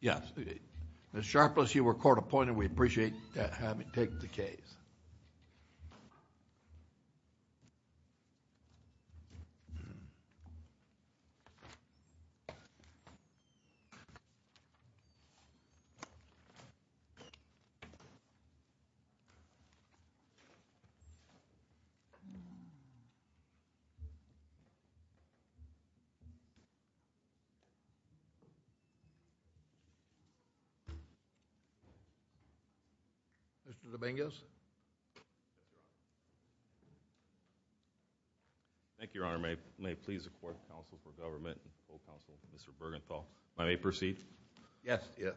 Yes, Ms. Sharpless, you were court-appointed. We appreciate that having taken the case. Mr. Dominguez? Thank you, Your Honor. May it please the court, counsel, for government, and full counsel, Mr. Burgenthal. May I proceed? Yes, yes.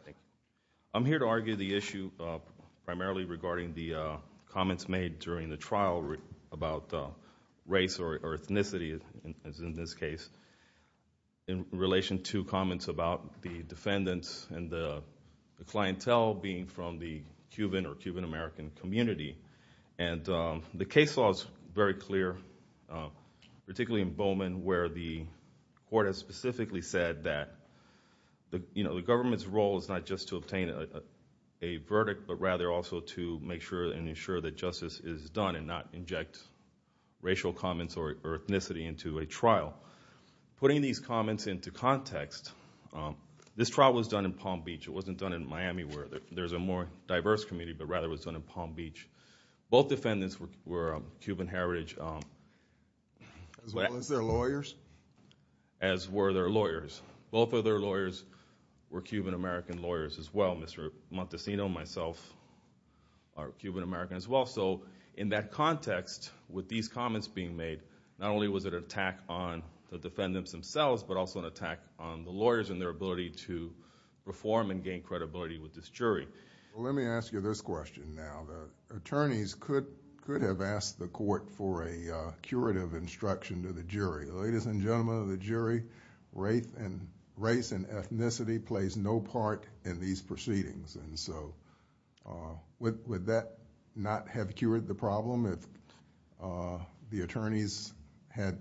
I'm here to argue the issue primarily regarding the comments made during the trial about race or ethnicity, as in this case, in relation to comments about the defendants and the clientele being from the Cuban or Cuban-American community. And the case law is very clear, particularly in Bowman, where the court has specifically said that the government's role is not just to obtain a verdict, but rather also to make sure and ensure that justice is done and not inject racial comments or Putting these comments into context, this trial was done in Palm Beach. It wasn't done in Miami, where there's a more diverse community, but rather it was done in Palm Beach. Both defendants were Cuban heritage... As well as their lawyers? As were their lawyers. Both of their lawyers were Cuban-American lawyers as well. Mr. Montesino and myself are Cuban-American as well. So in that context, with these comments being made, not only was it an attack on the defendants themselves, but also an attack on the lawyers and their ability to reform and gain credibility with this jury. Let me ask you this question now. The attorneys could have asked the court for a curative instruction to the jury. Ladies and gentlemen of the jury, race and ethnicity plays no part in these proceedings. Would that not have cured the problem if the attorneys had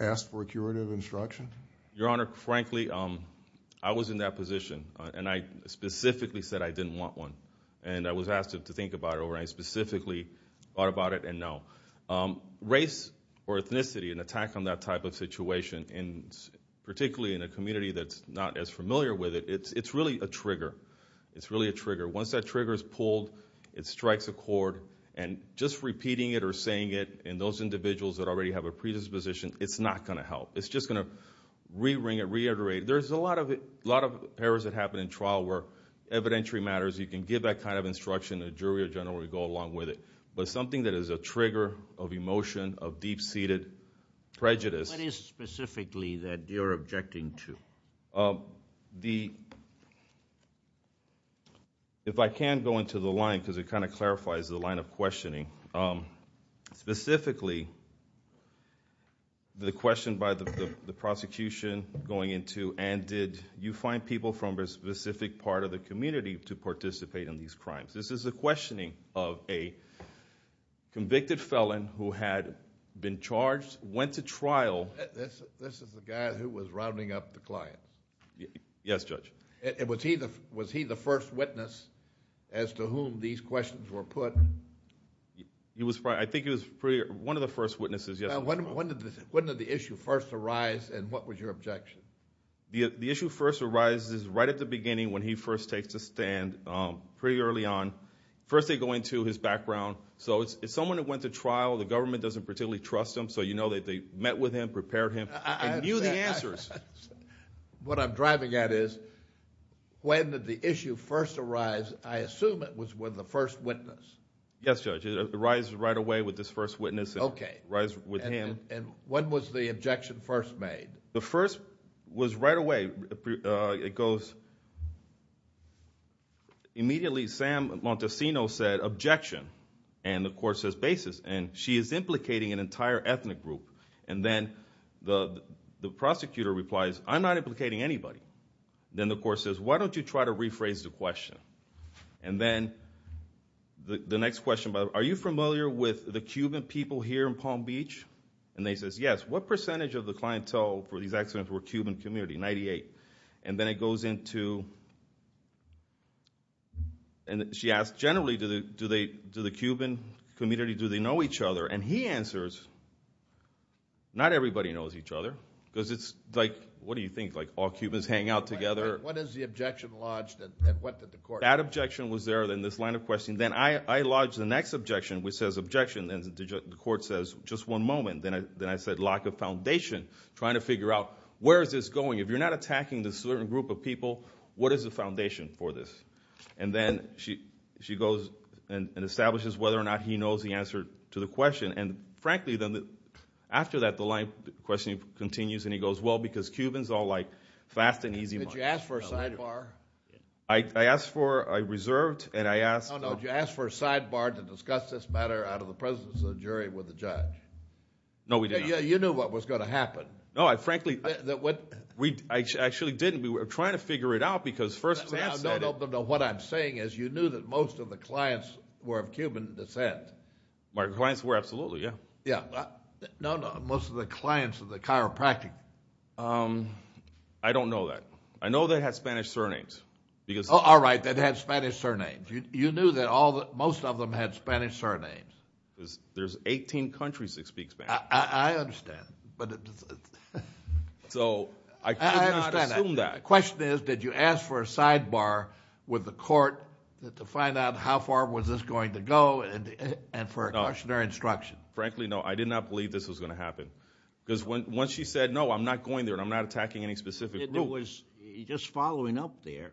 asked for a curative instruction? Your Honor, frankly, I was in that position and I specifically said I didn't want one. And I was asked to think about it or I specifically thought about it and no. Race or ethnicity, an attack on that type of situation, particularly in a community that's not as familiar with it, it's really a trigger. It's really a trigger. Once that trigger is pulled, it strikes a chord. And just repeating it or saying it in those individuals that already have a predisposition, it's not going to help. It's just going to re-ring it, reiterate it. There's a lot of errors that happen in trial where evidentiary matters, you can give that kind of instruction to the jury or general to go along with it. But something that is a trigger of emotion, of deep-seated prejudice... If I can go into the line because it kind of clarifies the line of questioning. Specifically, the question by the prosecution going into, and did you find people from a specific part of the community to participate in these crimes? This is a questioning of a convicted felon who had been charged, went to trial... This is the guy who was rounding up the clients. Yes, Judge. Was he the first witness as to whom these questions were put? I think he was one of the first witnesses, yes. When did the issue first arise and what was your objection? The issue first arises right at the beginning when he first takes the stand, pretty early on. First they go into his background. So it's someone that went to trial, the government doesn't particularly trust him, so you know that they met with him, prepared him, and what I'm driving at is, when did the issue first arise? I assume it was with the first witness. Yes, Judge. It arises right away with this first witness, it arises with him. Okay. And when was the objection first made? The first was right away. It goes... Immediately Sam Montesino said, objection. And the court says basis. And she is implicating an entire ethnic group. And then the prosecutor replies, I'm not implicating anybody. Then the court says, why don't you try to rephrase the question? And then the next question, are you familiar with the Cuban people here in Palm Beach? And they say, yes. What percentage of the clientele for these accidents were Cuban community? 98. And then it goes into... And she asks generally, do the Cuban community, do they know each other? And she answers, not everybody knows each other, because it's like, what do you think, like all Cubans hang out together? What is the objection lodged, and what did the court... That objection was there in this line of questioning. Then I lodged the next objection, which says objection, and the court says, just one moment. Then I said, lack of foundation, trying to figure out, where is this going? If you're not attacking this certain group of people, what is the foundation for this? And then she goes and establishes whether or not he knows the answer to the question. And frankly, then, after that, the line of questioning continues, and he goes, well, because Cubans all like fast and easy... Did you ask for a sidebar? I asked for, I reserved, and I asked... No, no, did you ask for a sidebar to discuss this matter out of the presence of the jury with the judge? No, we did not. You knew what was going to happen. No, I frankly... That what... I actually didn't. We were trying to figure it out, because first... No, no, no, what I'm saying is, you knew that most of the clients were of Cuban descent. My clients were, absolutely, yeah. Yeah, no, no, most of the clients are the chiropractic... I don't know that. I know they had Spanish surnames, because... Oh, all right, they had Spanish surnames. You knew that most of them had Spanish surnames. There's 18 countries that speak Spanish. I understand, but... So I could not assume that. I understand that. The question is, did you ask for a sidebar with the court to find out how far was this going to go, and for a cautionary instruction? Frankly, no, I did not believe this was going to happen, because once she said, no, I'm not going there, and I'm not attacking any specific group... It was, just following up there,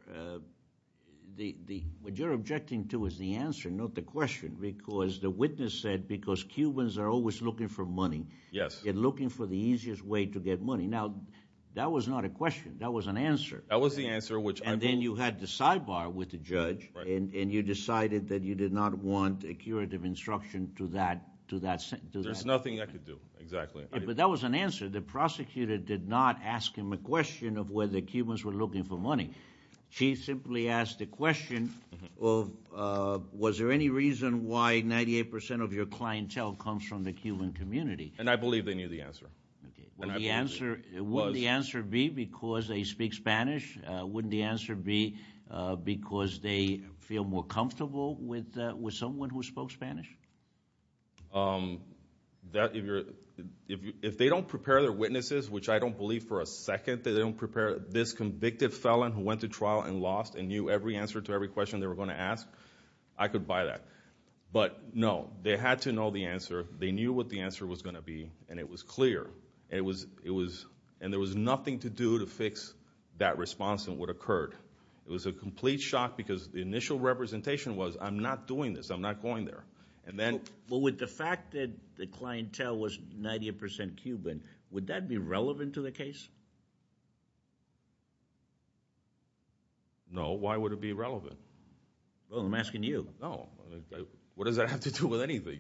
what you're objecting to is the answer, not the question, because the witness said, because Cubans are always looking for money, they're looking for the easiest way to get money. Now, that was not a question. That was an answer. That was the answer, which I believe... And then you had the sidebar with the judge, and you decided that you did not want a curative instruction to that... There's nothing I could do, exactly. But that was an answer. The prosecutor did not ask him a question of whether Cubans were looking for money. She simply asked the question of, was there any reason why 98 percent of your clientele comes from the Cuban community? And I believe they knew the answer. Would the answer be because they speak Spanish? Wouldn't the answer be because they feel more comfortable with someone who spoke Spanish? If they don't prepare their witnesses, which I don't believe for a second that they don't prepare, this convicted felon who went to trial and lost and knew every answer to every question they were going to ask, I could buy that. But no, they had to know the answer. They knew what the answer was going to be, and it was clear. And there was nothing to do to fix that response that would have occurred. It was a complete shock because the initial representation was, I'm not doing this. I'm not going there. And then... Well, with the fact that the clientele was 98 percent Cuban, would that be relevant to the case? No. Why would it be relevant? Well, I'm asking you. No. What does that have to do with anything?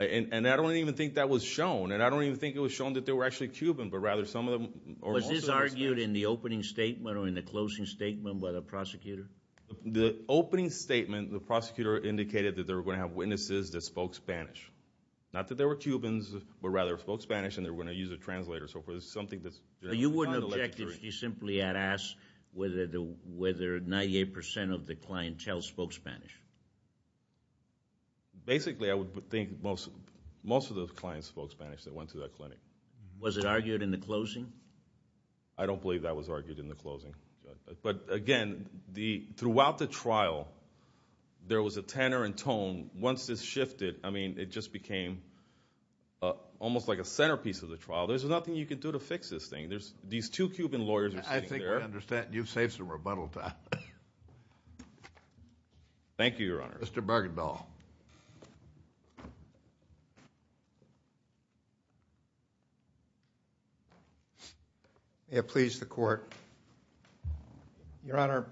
And I don't even think that was shown. And I don't even think it was shown that they were actually Cuban, but rather some of them were also Spanish. Was this argued in the opening statement or in the closing statement by the prosecutor? The opening statement, the prosecutor indicated that they were going to have witnesses that spoke Spanish. Not that they were Cubans, but rather spoke Spanish and they were going to use a translator. So it was something that's... But you wouldn't object if you simply had asked whether 98 percent of the clientele spoke Spanish? Basically, I would think most of those clients spoke Spanish that went to that clinic. Was it argued in the closing? I don't believe that was argued in the closing. But again, throughout the trial, there was a tenor and tone. Once this shifted, I mean, it just became almost like a centerpiece of the trial. There's nothing you can do to fix this thing. These two Cuban lawyers are sitting there... Thank you, Your Honor. Mr. Bargainville. May it please the Court. Your Honor,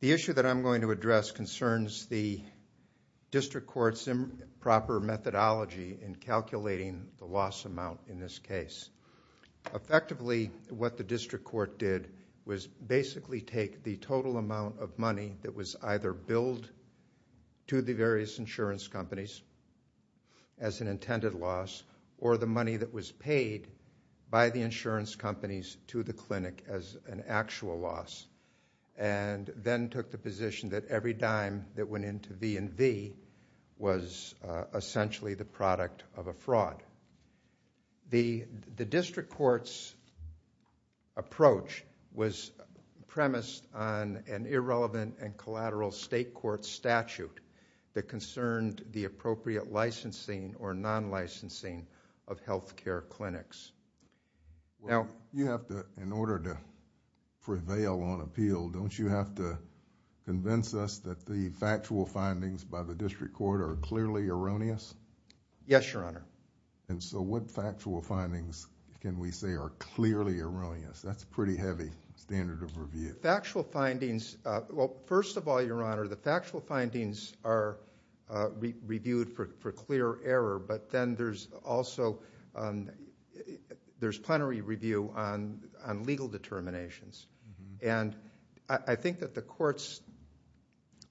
the issue that I'm going to address concerns the district court's improper methodology in calculating the loss amount in this case. Effectively, what the district court did was basically take the total amount of money that was either billed to the various insurance companies as an intended loss, or the money that was paid by the insurance companies to the clinic as an actual loss, and then took the position that every dime that went into V&V was essentially the product of a fraud. The district court's approach was premised on an irrelevant and collateral state court statute that concerned the appropriate licensing or non-licensing of healthcare clinics. You have to, in order to prevail on appeal, don't you have to convince us that the factual findings by the district court are clearly erroneous? Yes, Your Honor. And so what factual findings can we say are clearly erroneous? That's a pretty heavy standard of review. Factual findings... well, first of all, Your Honor, the factual findings are reviewed for clear error, but then there's also... there's plenary review on legal determinations. And I think that the court's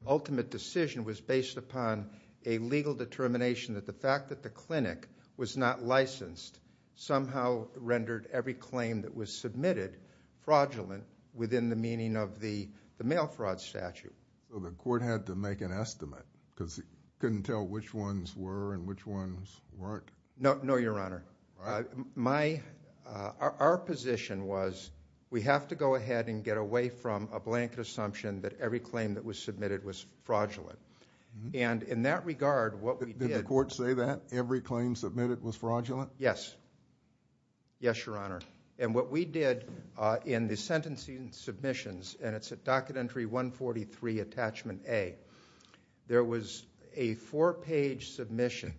ultimate decision was based upon a legal determination that the fact that the clinic was not licensed somehow rendered every claim that was submitted fraudulent within the meaning of the mail fraud statute. So the court had to make an estimate because it couldn't tell which ones were and which ones weren't? No, Your Honor. All right. My... our position was we have to go ahead and get away from a blanket assumption that every claim that was submitted was fraudulent. And in that regard, what we did... Did the court say that every claim submitted was fraudulent? Yes. Yes, Your Honor. And what we did in the sentencing submissions, and it's at Docket Entry 143, Attachment A, there was a four-page submission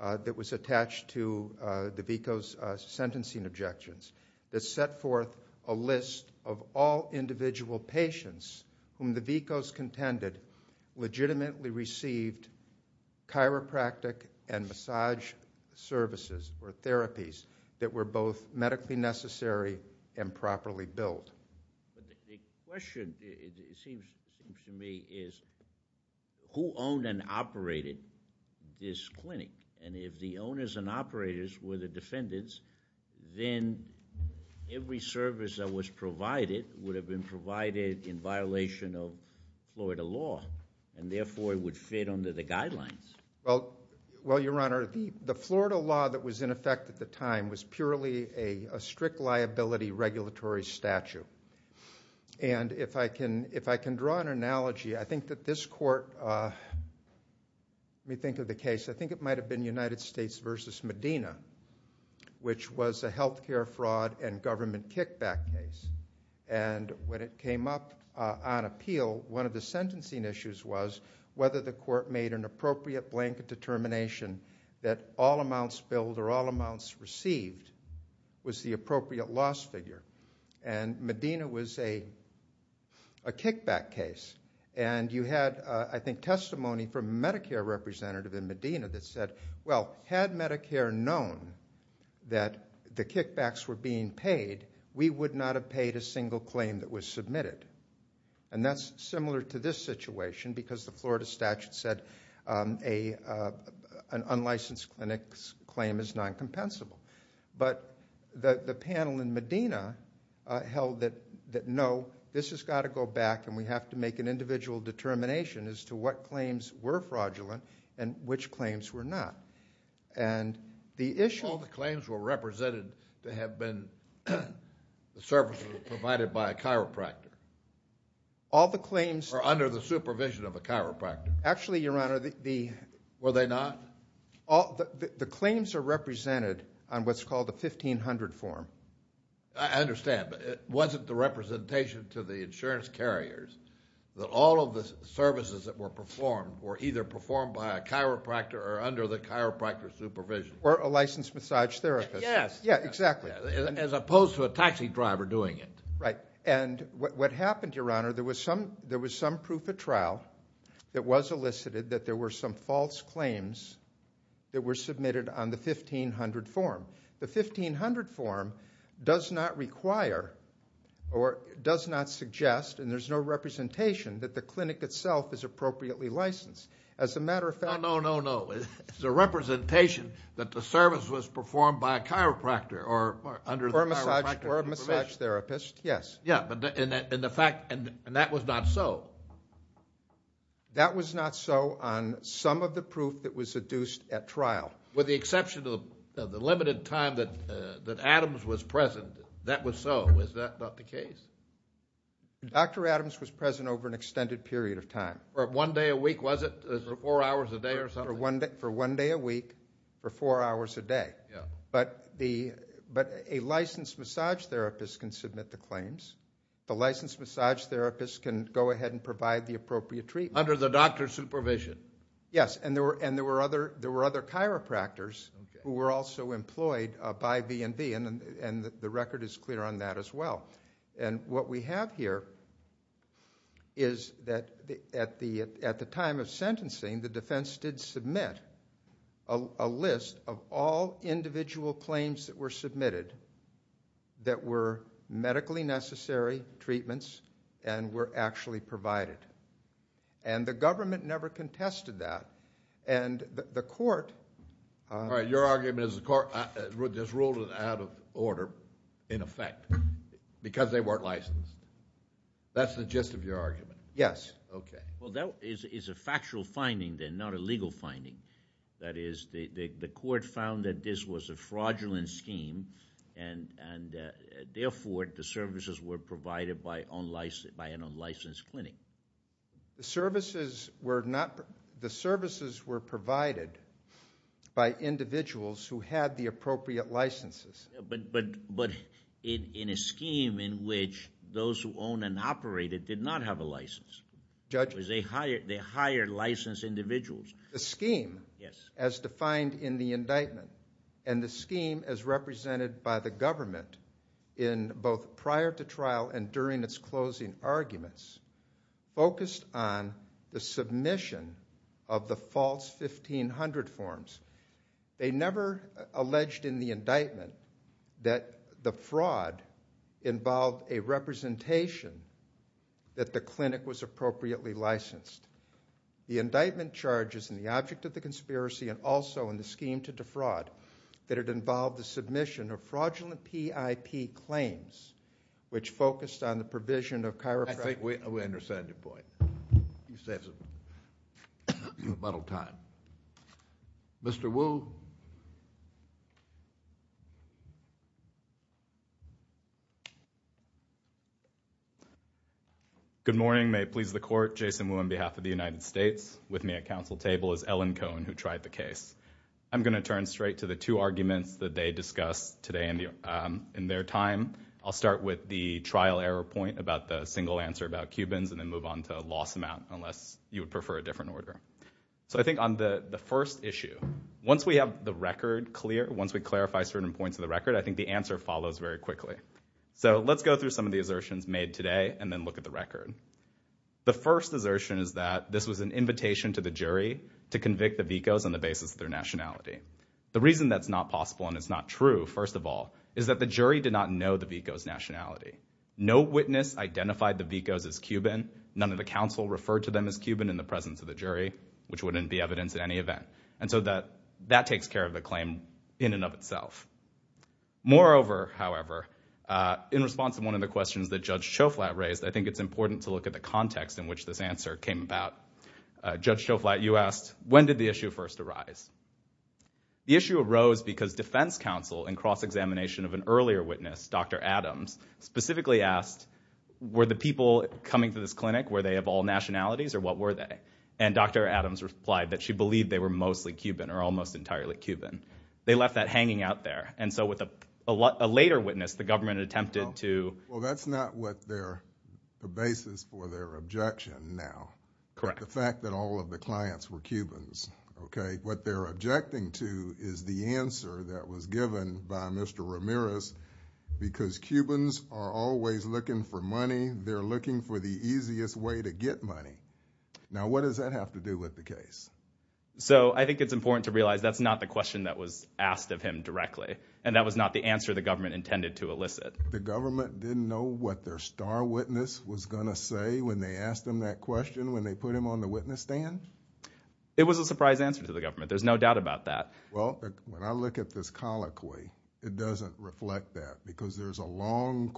that was attached to DeVico's sentencing objections that set forth a list of all individual patients whom DeVico's contended legitimately received chiropractic and massage services or therapies that were both medically necessary and properly billed. But the question, it seems to me, is who owned and operated this clinic? And if the owners and operators were the defendants, then every service that was provided would have been provided in violation of Florida law, and therefore it would fit under the guidelines. Well, Your Honor, the Florida law that was in effect at the time was purely a strict liability regulatory statute. And if I can draw an analogy, I think that this court... Let me think of the case. I think it might have been United States v. Medina, which was a health care fraud and government kickback case. And when it came up on appeal, one of the sentencing issues was whether the court made an appropriate blanket determination that all amounts billed or all amounts received was the appropriate loss figure. And Medina was a kickback case. And you had, I think, testimony from a Medicare representative in Medina that said, well, had Medicare known that the kickbacks were being paid, we would not have paid a single claim that was submitted. And that's similar to this situation because the Florida statute said an unlicensed clinic's claim is non-compensable. But the panel in Medina held that, no, this has got to go back and we have to make an individual determination as to what claims were fraudulent and which claims were not. And the issue... All the claims were represented to have been the services provided by a chiropractor. All the claims... Or under the supervision of a chiropractor. Actually, Your Honor, the... Were they not? The claims are represented on what's called a 1500 form. I understand. But it wasn't the representation to the insurance carriers that all of the services that were performed were either performed by a chiropractor or under the chiropractor's supervision. Or a licensed massage therapist. Yes. Yeah, exactly. As opposed to a taxi driver doing it. Right. And what happened, Your Honor, there was some proof at trial that was elicited that there were some false claims that were submitted on the 1500 form. The 1500 form does not require or does not suggest, and there's no representation, that the clinic itself is appropriately licensed. As a matter of fact... No, no, no, no. It's a representation that the service was performed by a chiropractor or under the chiropractor's supervision. Or a massage therapist, yes. Yeah, and the fact... and that was not so. That was not so on some of the proof that was seduced at trial. With the exception of the limited time that Adams was present, that was so. Is that not the case? Dr. Adams was present over an extended period of time. For one day a week, was it? Four hours a day or something? For one day a week for four hours a day. Yeah. But a licensed massage therapist can submit the claims. A licensed massage therapist can go ahead and provide the appropriate treatment. Under the doctor's supervision. Yes, and there were other chiropractors who were also employed by B&B, and the record is clear on that as well. And what we have here is that at the time of sentencing, the defense did submit a list of all individual claims that were submitted that were medically necessary treatments and were actually provided. And the government never contested that. And the court... All right, your argument is the court just ruled it out of order, in effect, because they weren't licensed. That's the gist of your argument? Yes. Okay. Well, that is a factual finding then, not a legal finding. That is, the court found that this was a fraudulent scheme, and therefore the services were provided by an unlicensed clinic. The services were provided by individuals who had the appropriate licenses. But in a scheme in which those who own and operate it did not have a license. Judge? Because they hired licensed individuals. The scheme... Yes.... as defined in the indictment, and the scheme as represented by the government in both prior to trial and during its closing arguments, focused on the submission of the false 1500 forms. They never alleged in the indictment that the fraud involved a representation that the clinic was appropriately licensed. The indictment charges in the object of the conspiracy, and also in the scheme to defraud, that it involved the submission of fraudulent PIP claims, which focused on the provision of chiropractic... I think we understand your point. You saved us a lot of time. Mr. Wu? Good morning. May it please the Court. Jason Wu on behalf of the United States. With me at counsel table is Ellen Cohn, who tried the case. I'm going to turn straight to the two arguments that they discussed today in their time. I'll start with the trial error point about the single answer about Cubans, and then move on to loss amount, unless you would prefer a different order. So I think on the first issue, once we have the record clear, once we clarify certain points of the record, I think the answer follows very quickly. So let's go through some of the assertions made today, and then look at the record. The first assertion is that this was an invitation to the jury to convict the Vicos on the basis of their nationality. The reason that's not possible and it's not true, first of all, is that the jury did not know the Vicos' nationality. No witness identified the Vicos as Cuban. None of the counsel referred to them as Cuban in the presence of the jury, which wouldn't be evidence in any event. And so that takes care of the claim in and of itself. Moreover, however, in response to one of the questions that Judge Choflat raised, I think it's important to look at the context in which this answer came about. Judge Choflat, you asked, when did the issue first arise? The issue arose because defense counsel, in cross-examination of an earlier witness, Dr. Adams, specifically asked, were the people coming to this clinic, were they of all nationalities, or what were they? And Dr. Adams replied that she believed they were mostly Cuban or almost entirely Cuban. They left that hanging out there. And so with a later witness, the government attempted to— Well, that's not what their basis for their objection now. Correct. The fact that all of the clients were Cubans, okay? What they're objecting to is the answer that was given by Mr. Ramirez, because Cubans are always looking for money, they're looking for the easiest way to get money. Now, what does that have to do with the case? So I think it's important to realize that's not the question that was asked of him directly, and that was not the answer the government intended to elicit. The government didn't know what their star witness was going to say when they asked him that question, when they put him on the witness stand? It was a surprise answer to the government. There's no doubt about that. Well, when I look at this colloquy, it doesn't reflect that, because there's a long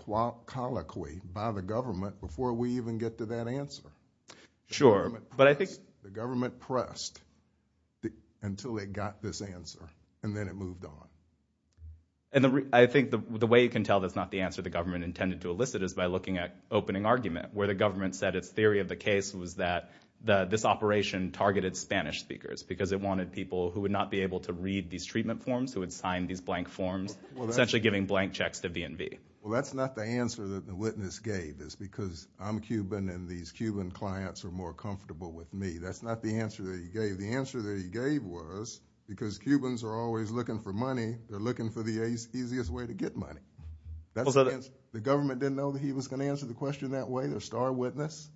colloquy by the government before we even get to that answer. Sure, but I think— until they got this answer, and then it moved on. I think the way you can tell that's not the answer the government intended to elicit is by looking at opening argument, where the government said its theory of the case was that this operation targeted Spanish speakers, because it wanted people who would not be able to read these treatment forms, who would sign these blank forms, essentially giving blank checks to V&V. Well, that's not the answer that the witness gave, is because I'm Cuban and these Cuban clients are more comfortable with me. That's not the answer that he gave. The answer that he gave was, because Cubans are always looking for money, they're looking for the easiest way to get money. The government didn't know that he was going to answer the question that way, their star witness?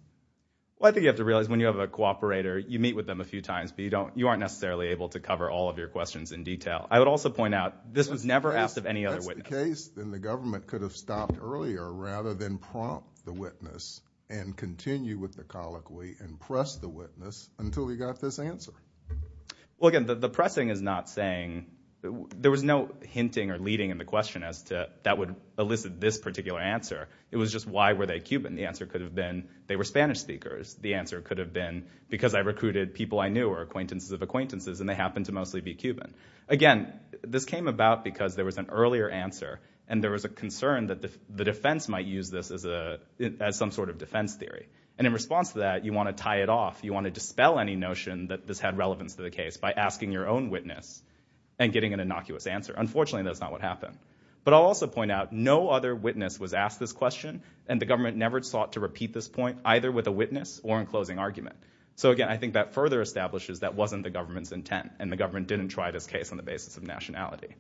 Well, I think you have to realize when you have a cooperator, you meet with them a few times, but you aren't necessarily able to cover all of your questions in detail. I would also point out, this was never asked of any other witness. If that's the case, then the government could have stopped earlier, rather than prompt the witness and continue with the colloquy and press the witness until he got this answer. Well, again, the pressing is not saying, there was no hinting or leading in the question as to that would elicit this particular answer. It was just why were they Cuban? The answer could have been they were Spanish speakers. The answer could have been because I recruited people I knew or acquaintances of acquaintances, and they happened to mostly be Cuban. Again, this came about because there was an earlier answer, and there was a concern that the defense might use this as some sort of defense theory. In response to that, you want to tie it off. You want to dispel any notion that this had relevance to the case by asking your own witness and getting an innocuous answer. Unfortunately, that's not what happened. But I'll also point out, no other witness was asked this question, and the government never sought to repeat this point, either with a witness or in closing argument. Again, I think that further establishes that wasn't the government's intent, and the government didn't try this case on the basis of nationality.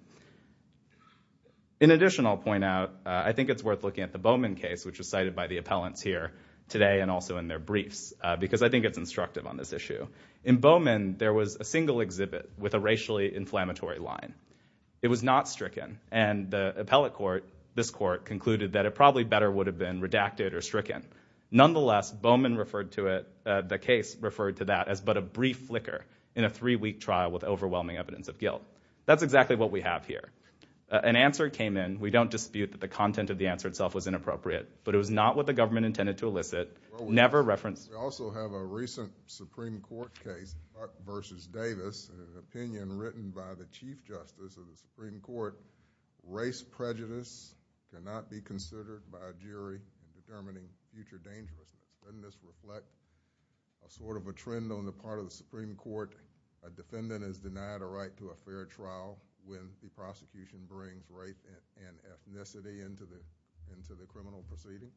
In addition, I'll point out, I think it's worth looking at the Bowman case, which was cited by the appellants here today and also in their briefs, because I think it's instructive on this issue. In Bowman, there was a single exhibit with a racially inflammatory line. It was not stricken, and the appellate court, this court, concluded that it probably better would have been redacted or stricken. Nonetheless, Bowman referred to it, the case referred to that, as but a brief flicker in a three-week trial with overwhelming evidence of guilt. That's exactly what we have here. An answer came in. We don't dispute that the content of the answer itself was inappropriate, but it was not what the government intended to elicit, never referenced. We also have a recent Supreme Court case, Buck v. Davis, an opinion written by the Chief Justice of the Supreme Court, race prejudice cannot be considered by a jury in determining future dangerousness. Doesn't this reflect a sort of a trend on the part of the Supreme Court? A defendant is denied a right to a fair trial when the prosecution brings rape and ethnicity into the criminal proceeding?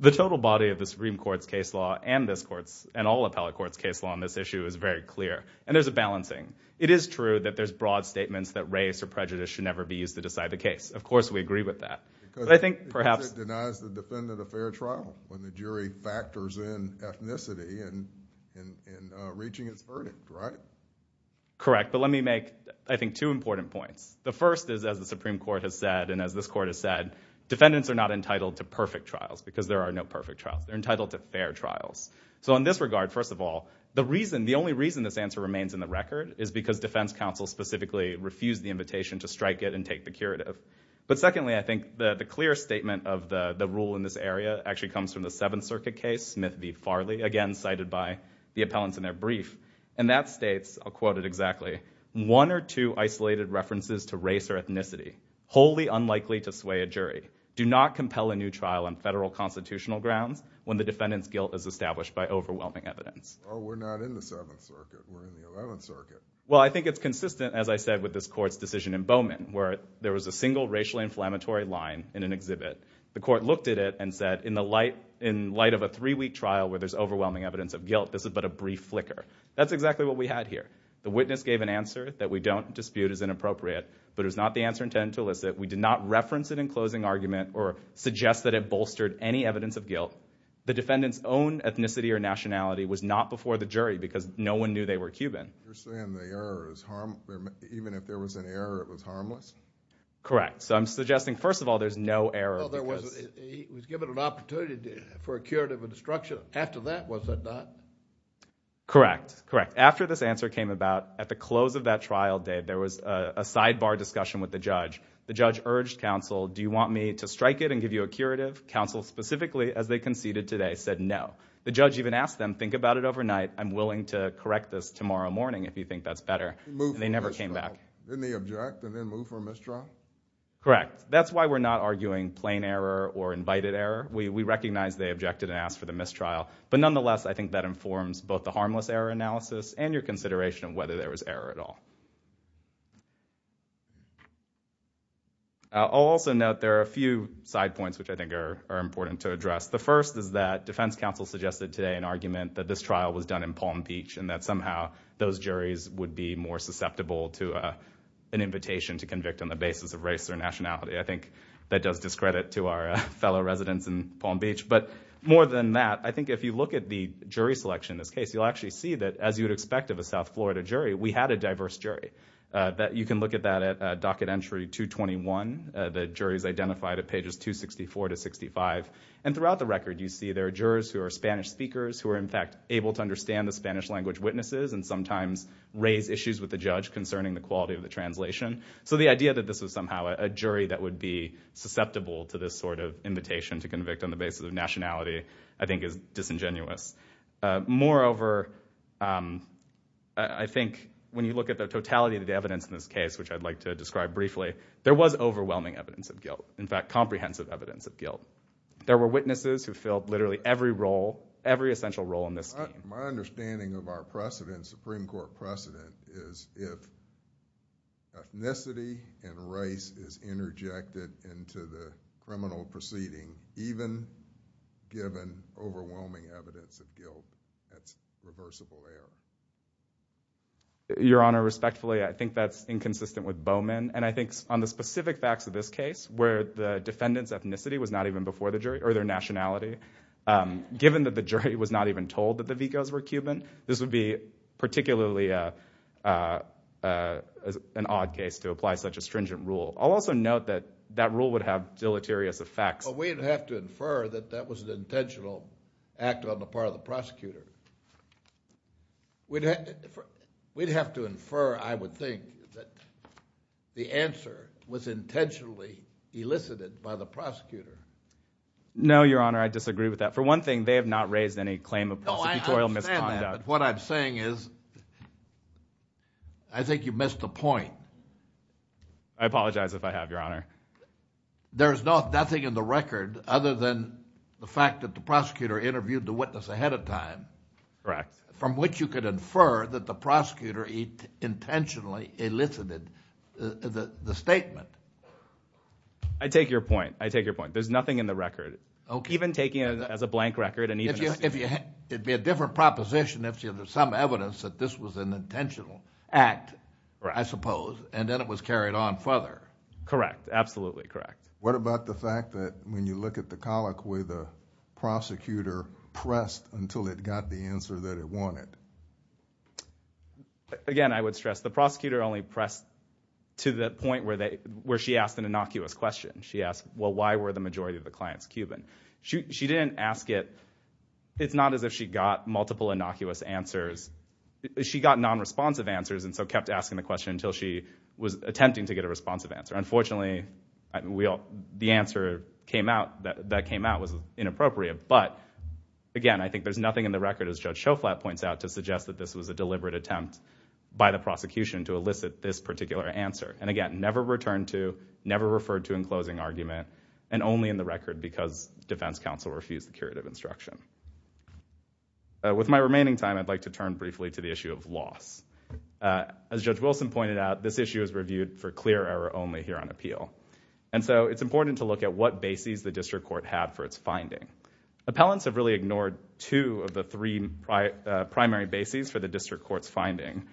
The total body of the Supreme Court's case law and this court's, and all appellate courts' case law on this issue is very clear, and there's a balancing. It is true that there's broad statements that race or prejudice should never be used to decide the case. Of course, we agree with that. Because it denies the defendant a fair trial when the jury factors in ethnicity in reaching its verdict, right? Correct. But let me make, I think, two important points. The first is, as the Supreme Court has said, and as this court has said, defendants are not entitled to perfect trials because there are no perfect trials. They're entitled to fair trials. So in this regard, first of all, the reason, the only reason this answer remains in the record is because defense counsel specifically refused the invitation to strike it and take the curative. But secondly, I think the clear statement of the rule in this area actually comes from the Seventh Circuit case, Smith v. Farley, again cited by the appellants in their brief. And that states, I'll quote it exactly, one or two isolated references to race or ethnicity, wholly unlikely to sway a jury, do not compel a new trial on federal constitutional grounds when the defendant's guilt is established by overwhelming evidence. Oh, we're not in the Seventh Circuit. We're in the Eleventh Circuit. Well, I think it's consistent, as I said, with this court's decision in Bowman where there was a single racially inflammatory line in an exhibit. The court looked at it and said, in the light of a three-week trial where there's overwhelming evidence of guilt, this is but a brief flicker. That's exactly what we had here. The witness gave an answer that we don't dispute as inappropriate, but it was not the answer intended to elicit. We did not reference it in closing argument or suggest that it bolstered any evidence of guilt. The defendant's own ethnicity or nationality was not before the jury because no one knew they were Cuban. You're saying the error is harmless? Even if there was an error, it was harmless? Correct. So I'm suggesting, first of all, there's no error. He was given an opportunity for a curative instruction. After that, was that not? Correct, correct. After this answer came about, at the close of that trial, Dave, there was a sidebar discussion with the judge. The judge urged counsel, do you want me to strike it and give you a curative? Counsel specifically, as they conceded today, said no. The judge even asked them, think about it overnight. I'm willing to correct this tomorrow morning if you think that's better, and they never came back. Didn't they object and then move for a mistrial? Correct. That's why we're not arguing plain error or invited error. We recognize they objected and asked for the mistrial, but nonetheless, I think that informs both the harmless error analysis and your consideration of whether there was error at all. I'll also note there are a few side points which I think are important to address. The first is that defense counsel suggested today an argument that this trial was done in Palm Beach and that somehow those juries would be more susceptible to an invitation to convict on the basis of race or nationality. I think that does discredit to our fellow residents in Palm Beach. But more than that, I think if you look at the jury selection in this case, you'll actually see that, as you'd expect of a South Florida jury, we had a diverse jury. You can look at that at docket entry 221. The jury's identified at pages 264 to 65. And throughout the record, you see there are jurors who are Spanish speakers who are, in fact, able to understand the Spanish language witnesses and sometimes raise issues with the judge concerning the quality of the translation. So the idea that this was somehow a jury that would be susceptible to this sort of invitation to convict on the basis of nationality I think is disingenuous. Moreover, I think when you look at the totality of the evidence in this case, which I'd like to describe briefly, there was overwhelming evidence of guilt, in fact, comprehensive evidence of guilt. There were witnesses who filled literally every role, every essential role in this scheme. My understanding of our precedent, Supreme Court precedent, is if ethnicity and race is interjected into the criminal proceeding, even given overwhelming evidence of guilt, that's reversible error. Your Honor, respectfully, I think that's inconsistent with Bowman. And I think on the specific facts of this case, where the defendant's ethnicity was not even before the jury, or their nationality, given that the jury was not even told that the Vicos were Cuban, this would be particularly an odd case to apply such a stringent rule. I'll also note that that rule would have deleterious effects. But we'd have to infer that that was an intentional act on the part of the prosecutor. We'd have to infer, I would think, that the answer was intentionally elicited by the prosecutor. No, Your Honor, I disagree with that. For one thing, they have not raised any claim of prosecutorial misconduct. No, I understand that, but what I'm saying is, I think you missed the point. I apologize if I have, Your Honor. There is nothing in the record, other than the fact that the prosecutor interviewed the witness ahead of time... Correct. ...from which you could infer that the prosecutor intentionally elicited the statement. I take your point. I take your point. There's nothing in the record. Okay. Even taking it as a blank record and even... It'd be a different proposition if there's some evidence that this was an intentional act, I suppose, and then it was carried on further. Correct. Absolutely correct. What about the fact that when you look at the colloquy, the prosecutor pressed until it got the answer that it wanted? Again, I would stress, the prosecutor only pressed to the point where she asked an innocuous question. She asked, well, why were the majority of the clients Cuban? She didn't ask it... It's not as if she got multiple innocuous answers. She got non-responsive answers and so kept asking the question until she was attempting to get a responsive answer. Unfortunately, the answer that came out was inappropriate. But, again, I think there's nothing in the record, as Judge Schoflat points out, to suggest that this was a deliberate attempt by the prosecution to elicit this particular answer. And, again, never returned to, never referred to in closing argument, and only in the record because defense counsel refused the curative instruction. With my remaining time, I'd like to turn briefly to the issue of loss. As Judge Wilson pointed out, this issue is reviewed for clear error only here on appeal. And so it's important to look at what bases the district court had for its finding. Appellants have really ignored two of the three primary bases for the district court's finding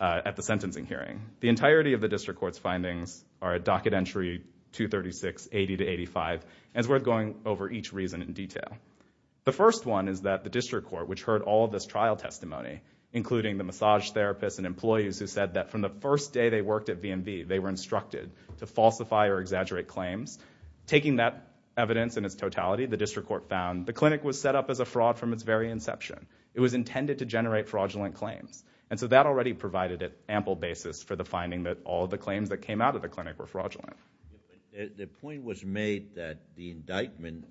at the sentencing hearing. The entirety of the district court's findings are at Docket Entry 236, 80 to 85, and it's worth going over each reason in detail. The first one is that the district court, which heard all of this trial testimony, including the massage therapists and employees who said that from the first day they worked at VMV, they were instructed to falsify or exaggerate claims. Taking that evidence in its totality, the district court found the clinic was set up as a fraud from its very inception. It was intended to generate fraudulent claims. And so that already provided an ample basis for the finding that all of the claims that came out of the clinic were fraudulent. The point was made that the indictment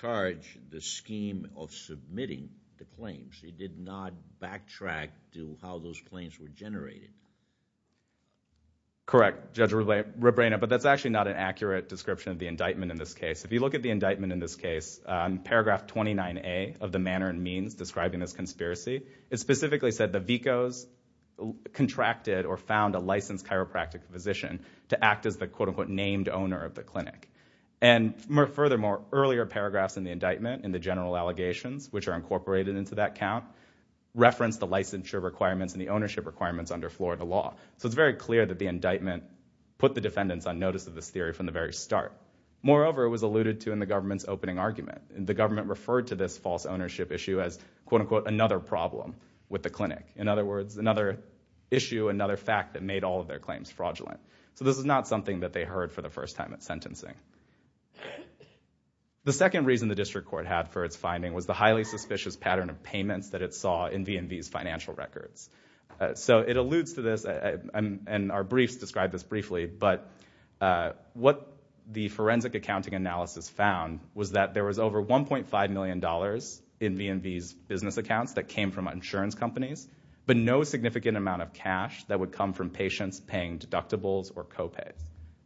charged the scheme of submitting the claims. It did not backtrack to how those claims were generated. Correct, Judge Rebrano, but that's actually not an accurate description of the indictment in this case. If you look at the indictment in this case, paragraph 29A of the manner and means describing this conspiracy, it specifically said the vicos contracted or found a licensed chiropractic physician to act as the quote-unquote named owner of the clinic. And furthermore, earlier paragraphs in the indictment and the general allegations, which are incorporated into that count, reference the licensure requirements and the ownership requirements under Florida law. So it's very clear that the indictment put the defendants on notice of this theory from the very start. Moreover, it was alluded to in the government's opening argument. The government referred to this false ownership issue as quote-unquote another problem with the clinic. In other words, another issue, another fact that made all of their claims fraudulent. So this is not something that they heard for the first time at sentencing. The second reason the district court had for its finding was the highly suspicious pattern of payments that it saw in V&V's financial records. So it alludes to this, and our briefs describe this briefly, but what the forensic accounting analysis found was that there was over $1.5 million in V&V's business accounts that came from insurance companies, but no significant amount of cash that would come from patients paying deductibles or copays.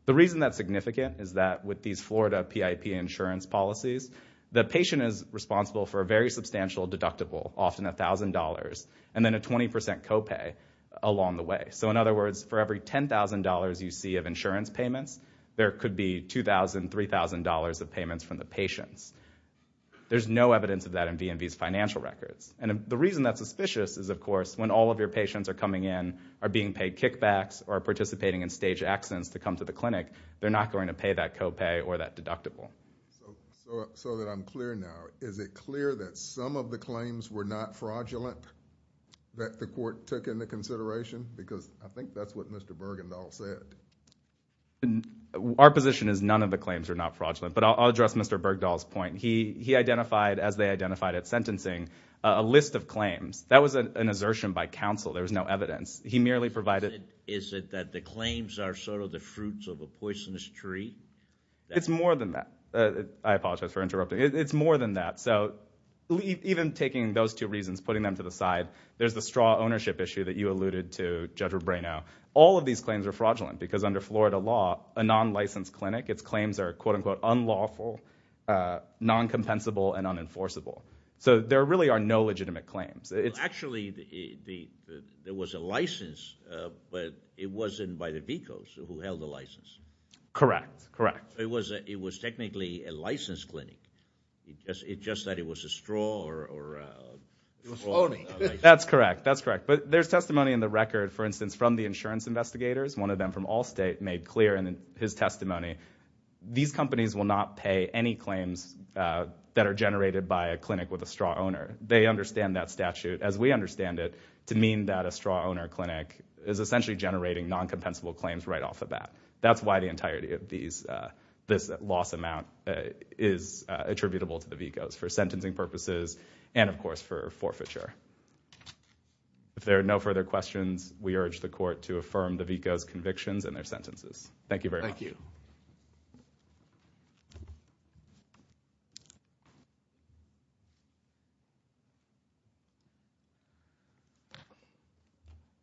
The reason that's significant is that with these Florida PIP insurance policies, the patient is responsible for a very substantial deductible, often $1,000, and then a 20% copay along the way. So in other words, for every $10,000 you see of insurance payments, there could be $2,000, $3,000 of payments from the patients. There's no evidence of that in V&V's financial records. And the reason that's suspicious is, of course, when all of your patients are coming in, are being paid kickbacks, or are participating in staged accidents to come to the clinic, they're not going to pay that copay or that deductible. So that I'm clear now, is it clear that some of the claims were not fraudulent that the court took into consideration? Because I think that's what Mr. Bergendahl said. Our position is none of the claims are not fraudulent. But I'll address Mr. Bergdahl's point. He identified, as they identified at sentencing, a list of claims. That was an assertion by counsel. There was no evidence. He merely provided... Is it that the claims are sort of the fruits of a poisonous tree? It's more than that. I apologize for interrupting. It's more than that. So even taking those two reasons, putting them to the side, there's the straw ownership issue that you alluded to, Judge Rubino. All of these claims are fraudulent, because under Florida law, a non-licensed clinic, its claims are quote-unquote unlawful, non-compensable, and unenforceable. So there really are no legitimate claims. Actually, there was a license, but it wasn't by the VCOs who held the license. Correct. Correct. It was technically a licensed clinic. It's just that it was a straw or... It was phony. That's correct. That's correct. But there's testimony in the record, for instance, from the insurance investigators. One of them from Allstate made clear in his testimony, these companies will not pay any claims that are generated by a clinic with a straw owner. They understand that statute as we understand it to mean that a straw owner clinic is essentially generating non-compensable claims right off the bat. That's why the entirety of this loss amount is attributable to the VCOs for sentencing purposes and, of course, for forfeiture. If there are no further questions, we urge the Court to affirm the VCOs' convictions and their sentences. Thank you very much. Thank you.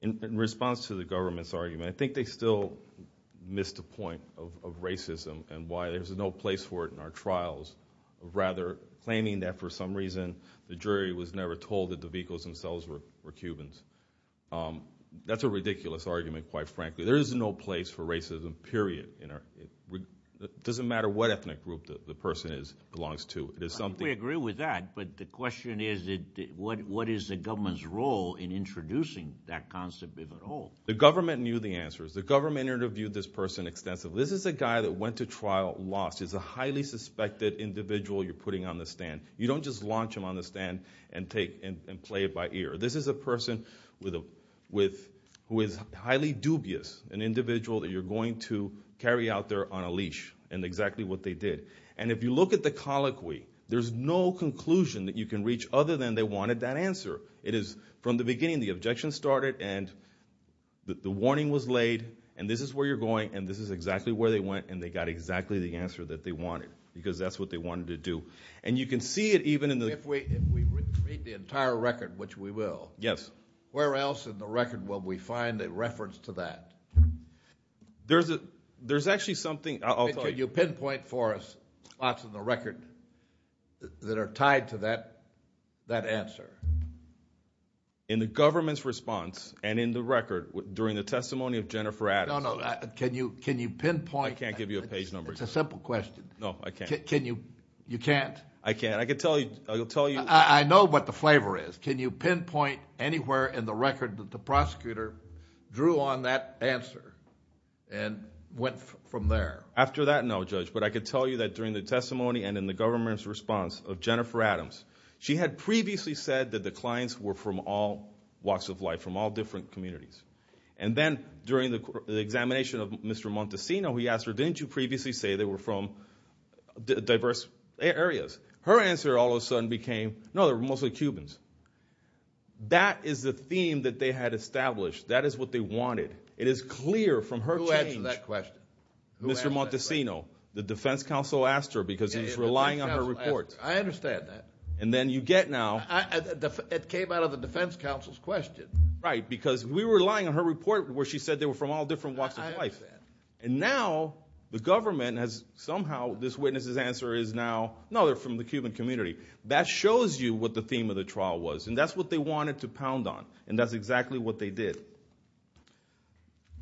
In response to the government's argument, I think they still missed a point of racism and why there's no place for it in our trials. Rather, claiming that for some reason the jury was never told that the VCOs themselves were Cubans. That's a ridiculous argument, quite frankly. There is no place for racism, period. It doesn't matter what ethnic group the person belongs to. We agree with that, but the question is, what is the government's role in introducing that concept, if at all? The government knew the answers. The government interviewed this person extensively. This is a guy that went to trial, lost. He's a highly suspected individual you're putting on the stand. You don't just launch him on the stand and play it by ear. This is a person who is highly dubious, an individual that you're going to carry out there on a leash, in exactly what they did. And if you look at the colloquy, there's no conclusion that you can reach other than they wanted that answer. From the beginning, the objection started and the warning was laid, and this is where you're going, and this is exactly where they went, and they got exactly the answer that they wanted, because that's what they wanted to do. And you can see it even in the... If we read the entire record, which we will, where else in the record will we find a reference to that? There's actually something... Can you pinpoint for us spots in the record that are tied to that answer? In the government's response and in the record during the testimony of Jennifer Addis... No, no, can you pinpoint... It's a simple question. No, I can't. You can't? I can't. I can tell you... I know what the flavor is. Can you pinpoint anywhere in the record that the prosecutor drew on that answer and went from there? After that, no, Judge, but I can tell you that during the testimony and in the government's response of Jennifer Addams, she had previously said that the clients were from all walks of life, from all different communities. And then during the examination of Mr. Montesino, we asked her, didn't you previously say they were from diverse areas? Her answer all of a sudden became, no, they were mostly Cubans. That is the theme that they had established. That is what they wanted. It is clear from her change... Who answered that question? Mr. Montesino. The defense counsel asked her because he was relying on her report. I understand that. And then you get now... It came out of the defense counsel's question. Right, because we were relying on her report where she said they were from all different walks of life. I understand. And now the government has somehow... This witness's answer is now, no, they're from the Cuban community. That shows you what the theme of the trial was, and that's what they wanted to pound on, and that's exactly what they did.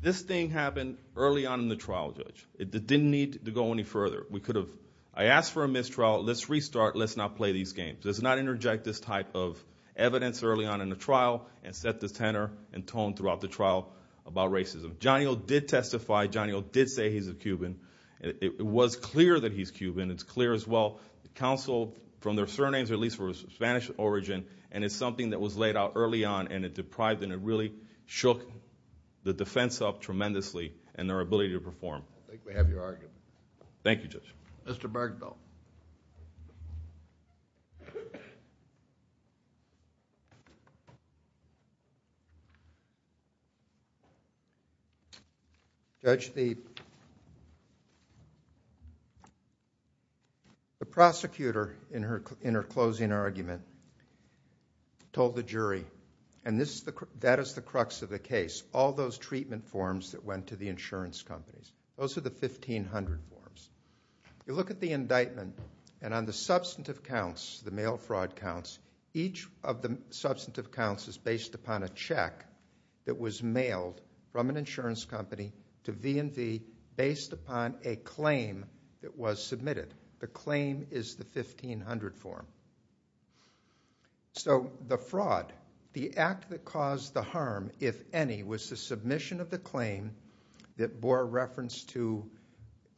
This thing happened early on in the trial, Judge. It didn't need to go any further. We could have... I asked for a mistrial. Let's restart. Let's not play these games. Let's not interject this type of evidence early on in the trial and set the tenor and tone throughout the trial about racism. Johnny O. did testify. Johnny O. did say he's a Cuban. It was clear that he's Cuban. It's clear as well. The counsel, from their surnames, at least were of Spanish origin, and it's something that was laid out early on, and it deprived and it really shook the defense up tremendously in their ability to perform. I think we have your argument. Thank you, Judge. Mr. Bergdahl. Judge, the prosecutor, in her closing argument, told the jury, and that is the crux of the case, all those treatment forms that went to the insurance companies. Those are the 1500 forms. You look at the indictment, and on the substantive counts, the mail fraud counts, each of the substantive counts is based upon a check that was mailed from an insurance company to V&V based upon a claim that was submitted. The claim is the 1500 form. So the fraud, the act that caused the harm, if any, was the submission of the claim that bore reference to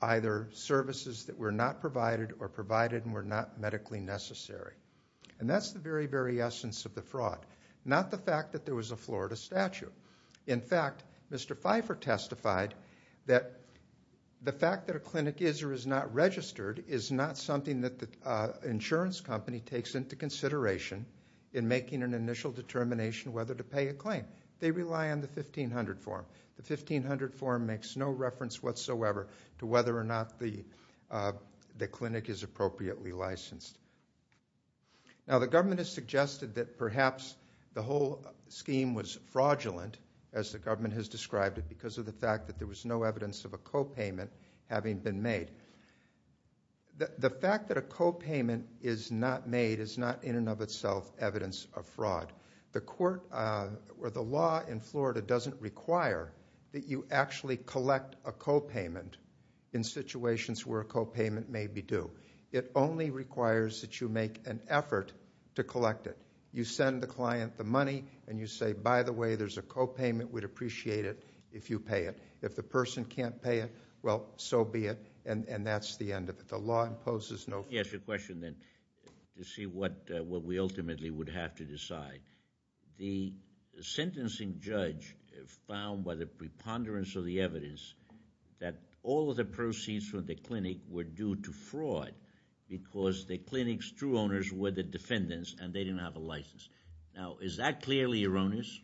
either services that were not provided or provided and were not medically necessary. And that's the very, very essence of the fraud, not the fact that there was a Florida statute. In fact, Mr. Pfeiffer testified that the fact that a clinic is or is not registered is not something that the insurance company takes into consideration in making an initial determination whether to pay a claim. They rely on the 1500 form. The 1500 form makes no reference whatsoever to whether or not the clinic is appropriately licensed. Now, the government has suggested that perhaps the whole scheme was fraudulent, as the government has described it, because of the fact that there was no evidence of a copayment having been made. The fact that a copayment is not made is not in and of itself evidence of fraud. The court or the law in Florida doesn't require that you actually collect a copayment in situations where a copayment may be due. It only requires that you make an effort to collect it. You send the client the money, and you say, by the way, there's a copayment. We'd appreciate it if you pay it. If the person can't pay it, well, so be it. And that's the end of it. The law imposes no... Yes, your question, then, to see what we ultimately would have to decide. The sentencing judge found, by the preponderance of the evidence, that all of the proceeds from the clinic were due to fraud because the clinic's true owners were the defendants, and they didn't have a license. Now, is that clearly erroneous?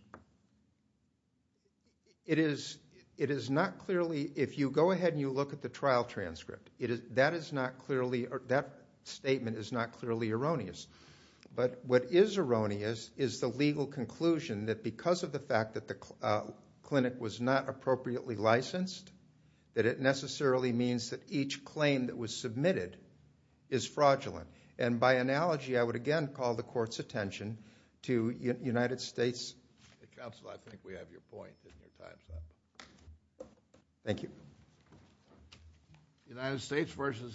It is not clearly... If you go ahead and you look at the trial transcript, that statement is not clearly erroneous. But what is erroneous is the legal conclusion that because of the fact that the clinic was not appropriately licensed, that it necessarily means that each claim that was submitted is fraudulent. And by analogy, I would again call the court's attention to United States... Counsel, I think we have your point in your time, sir. Thank you.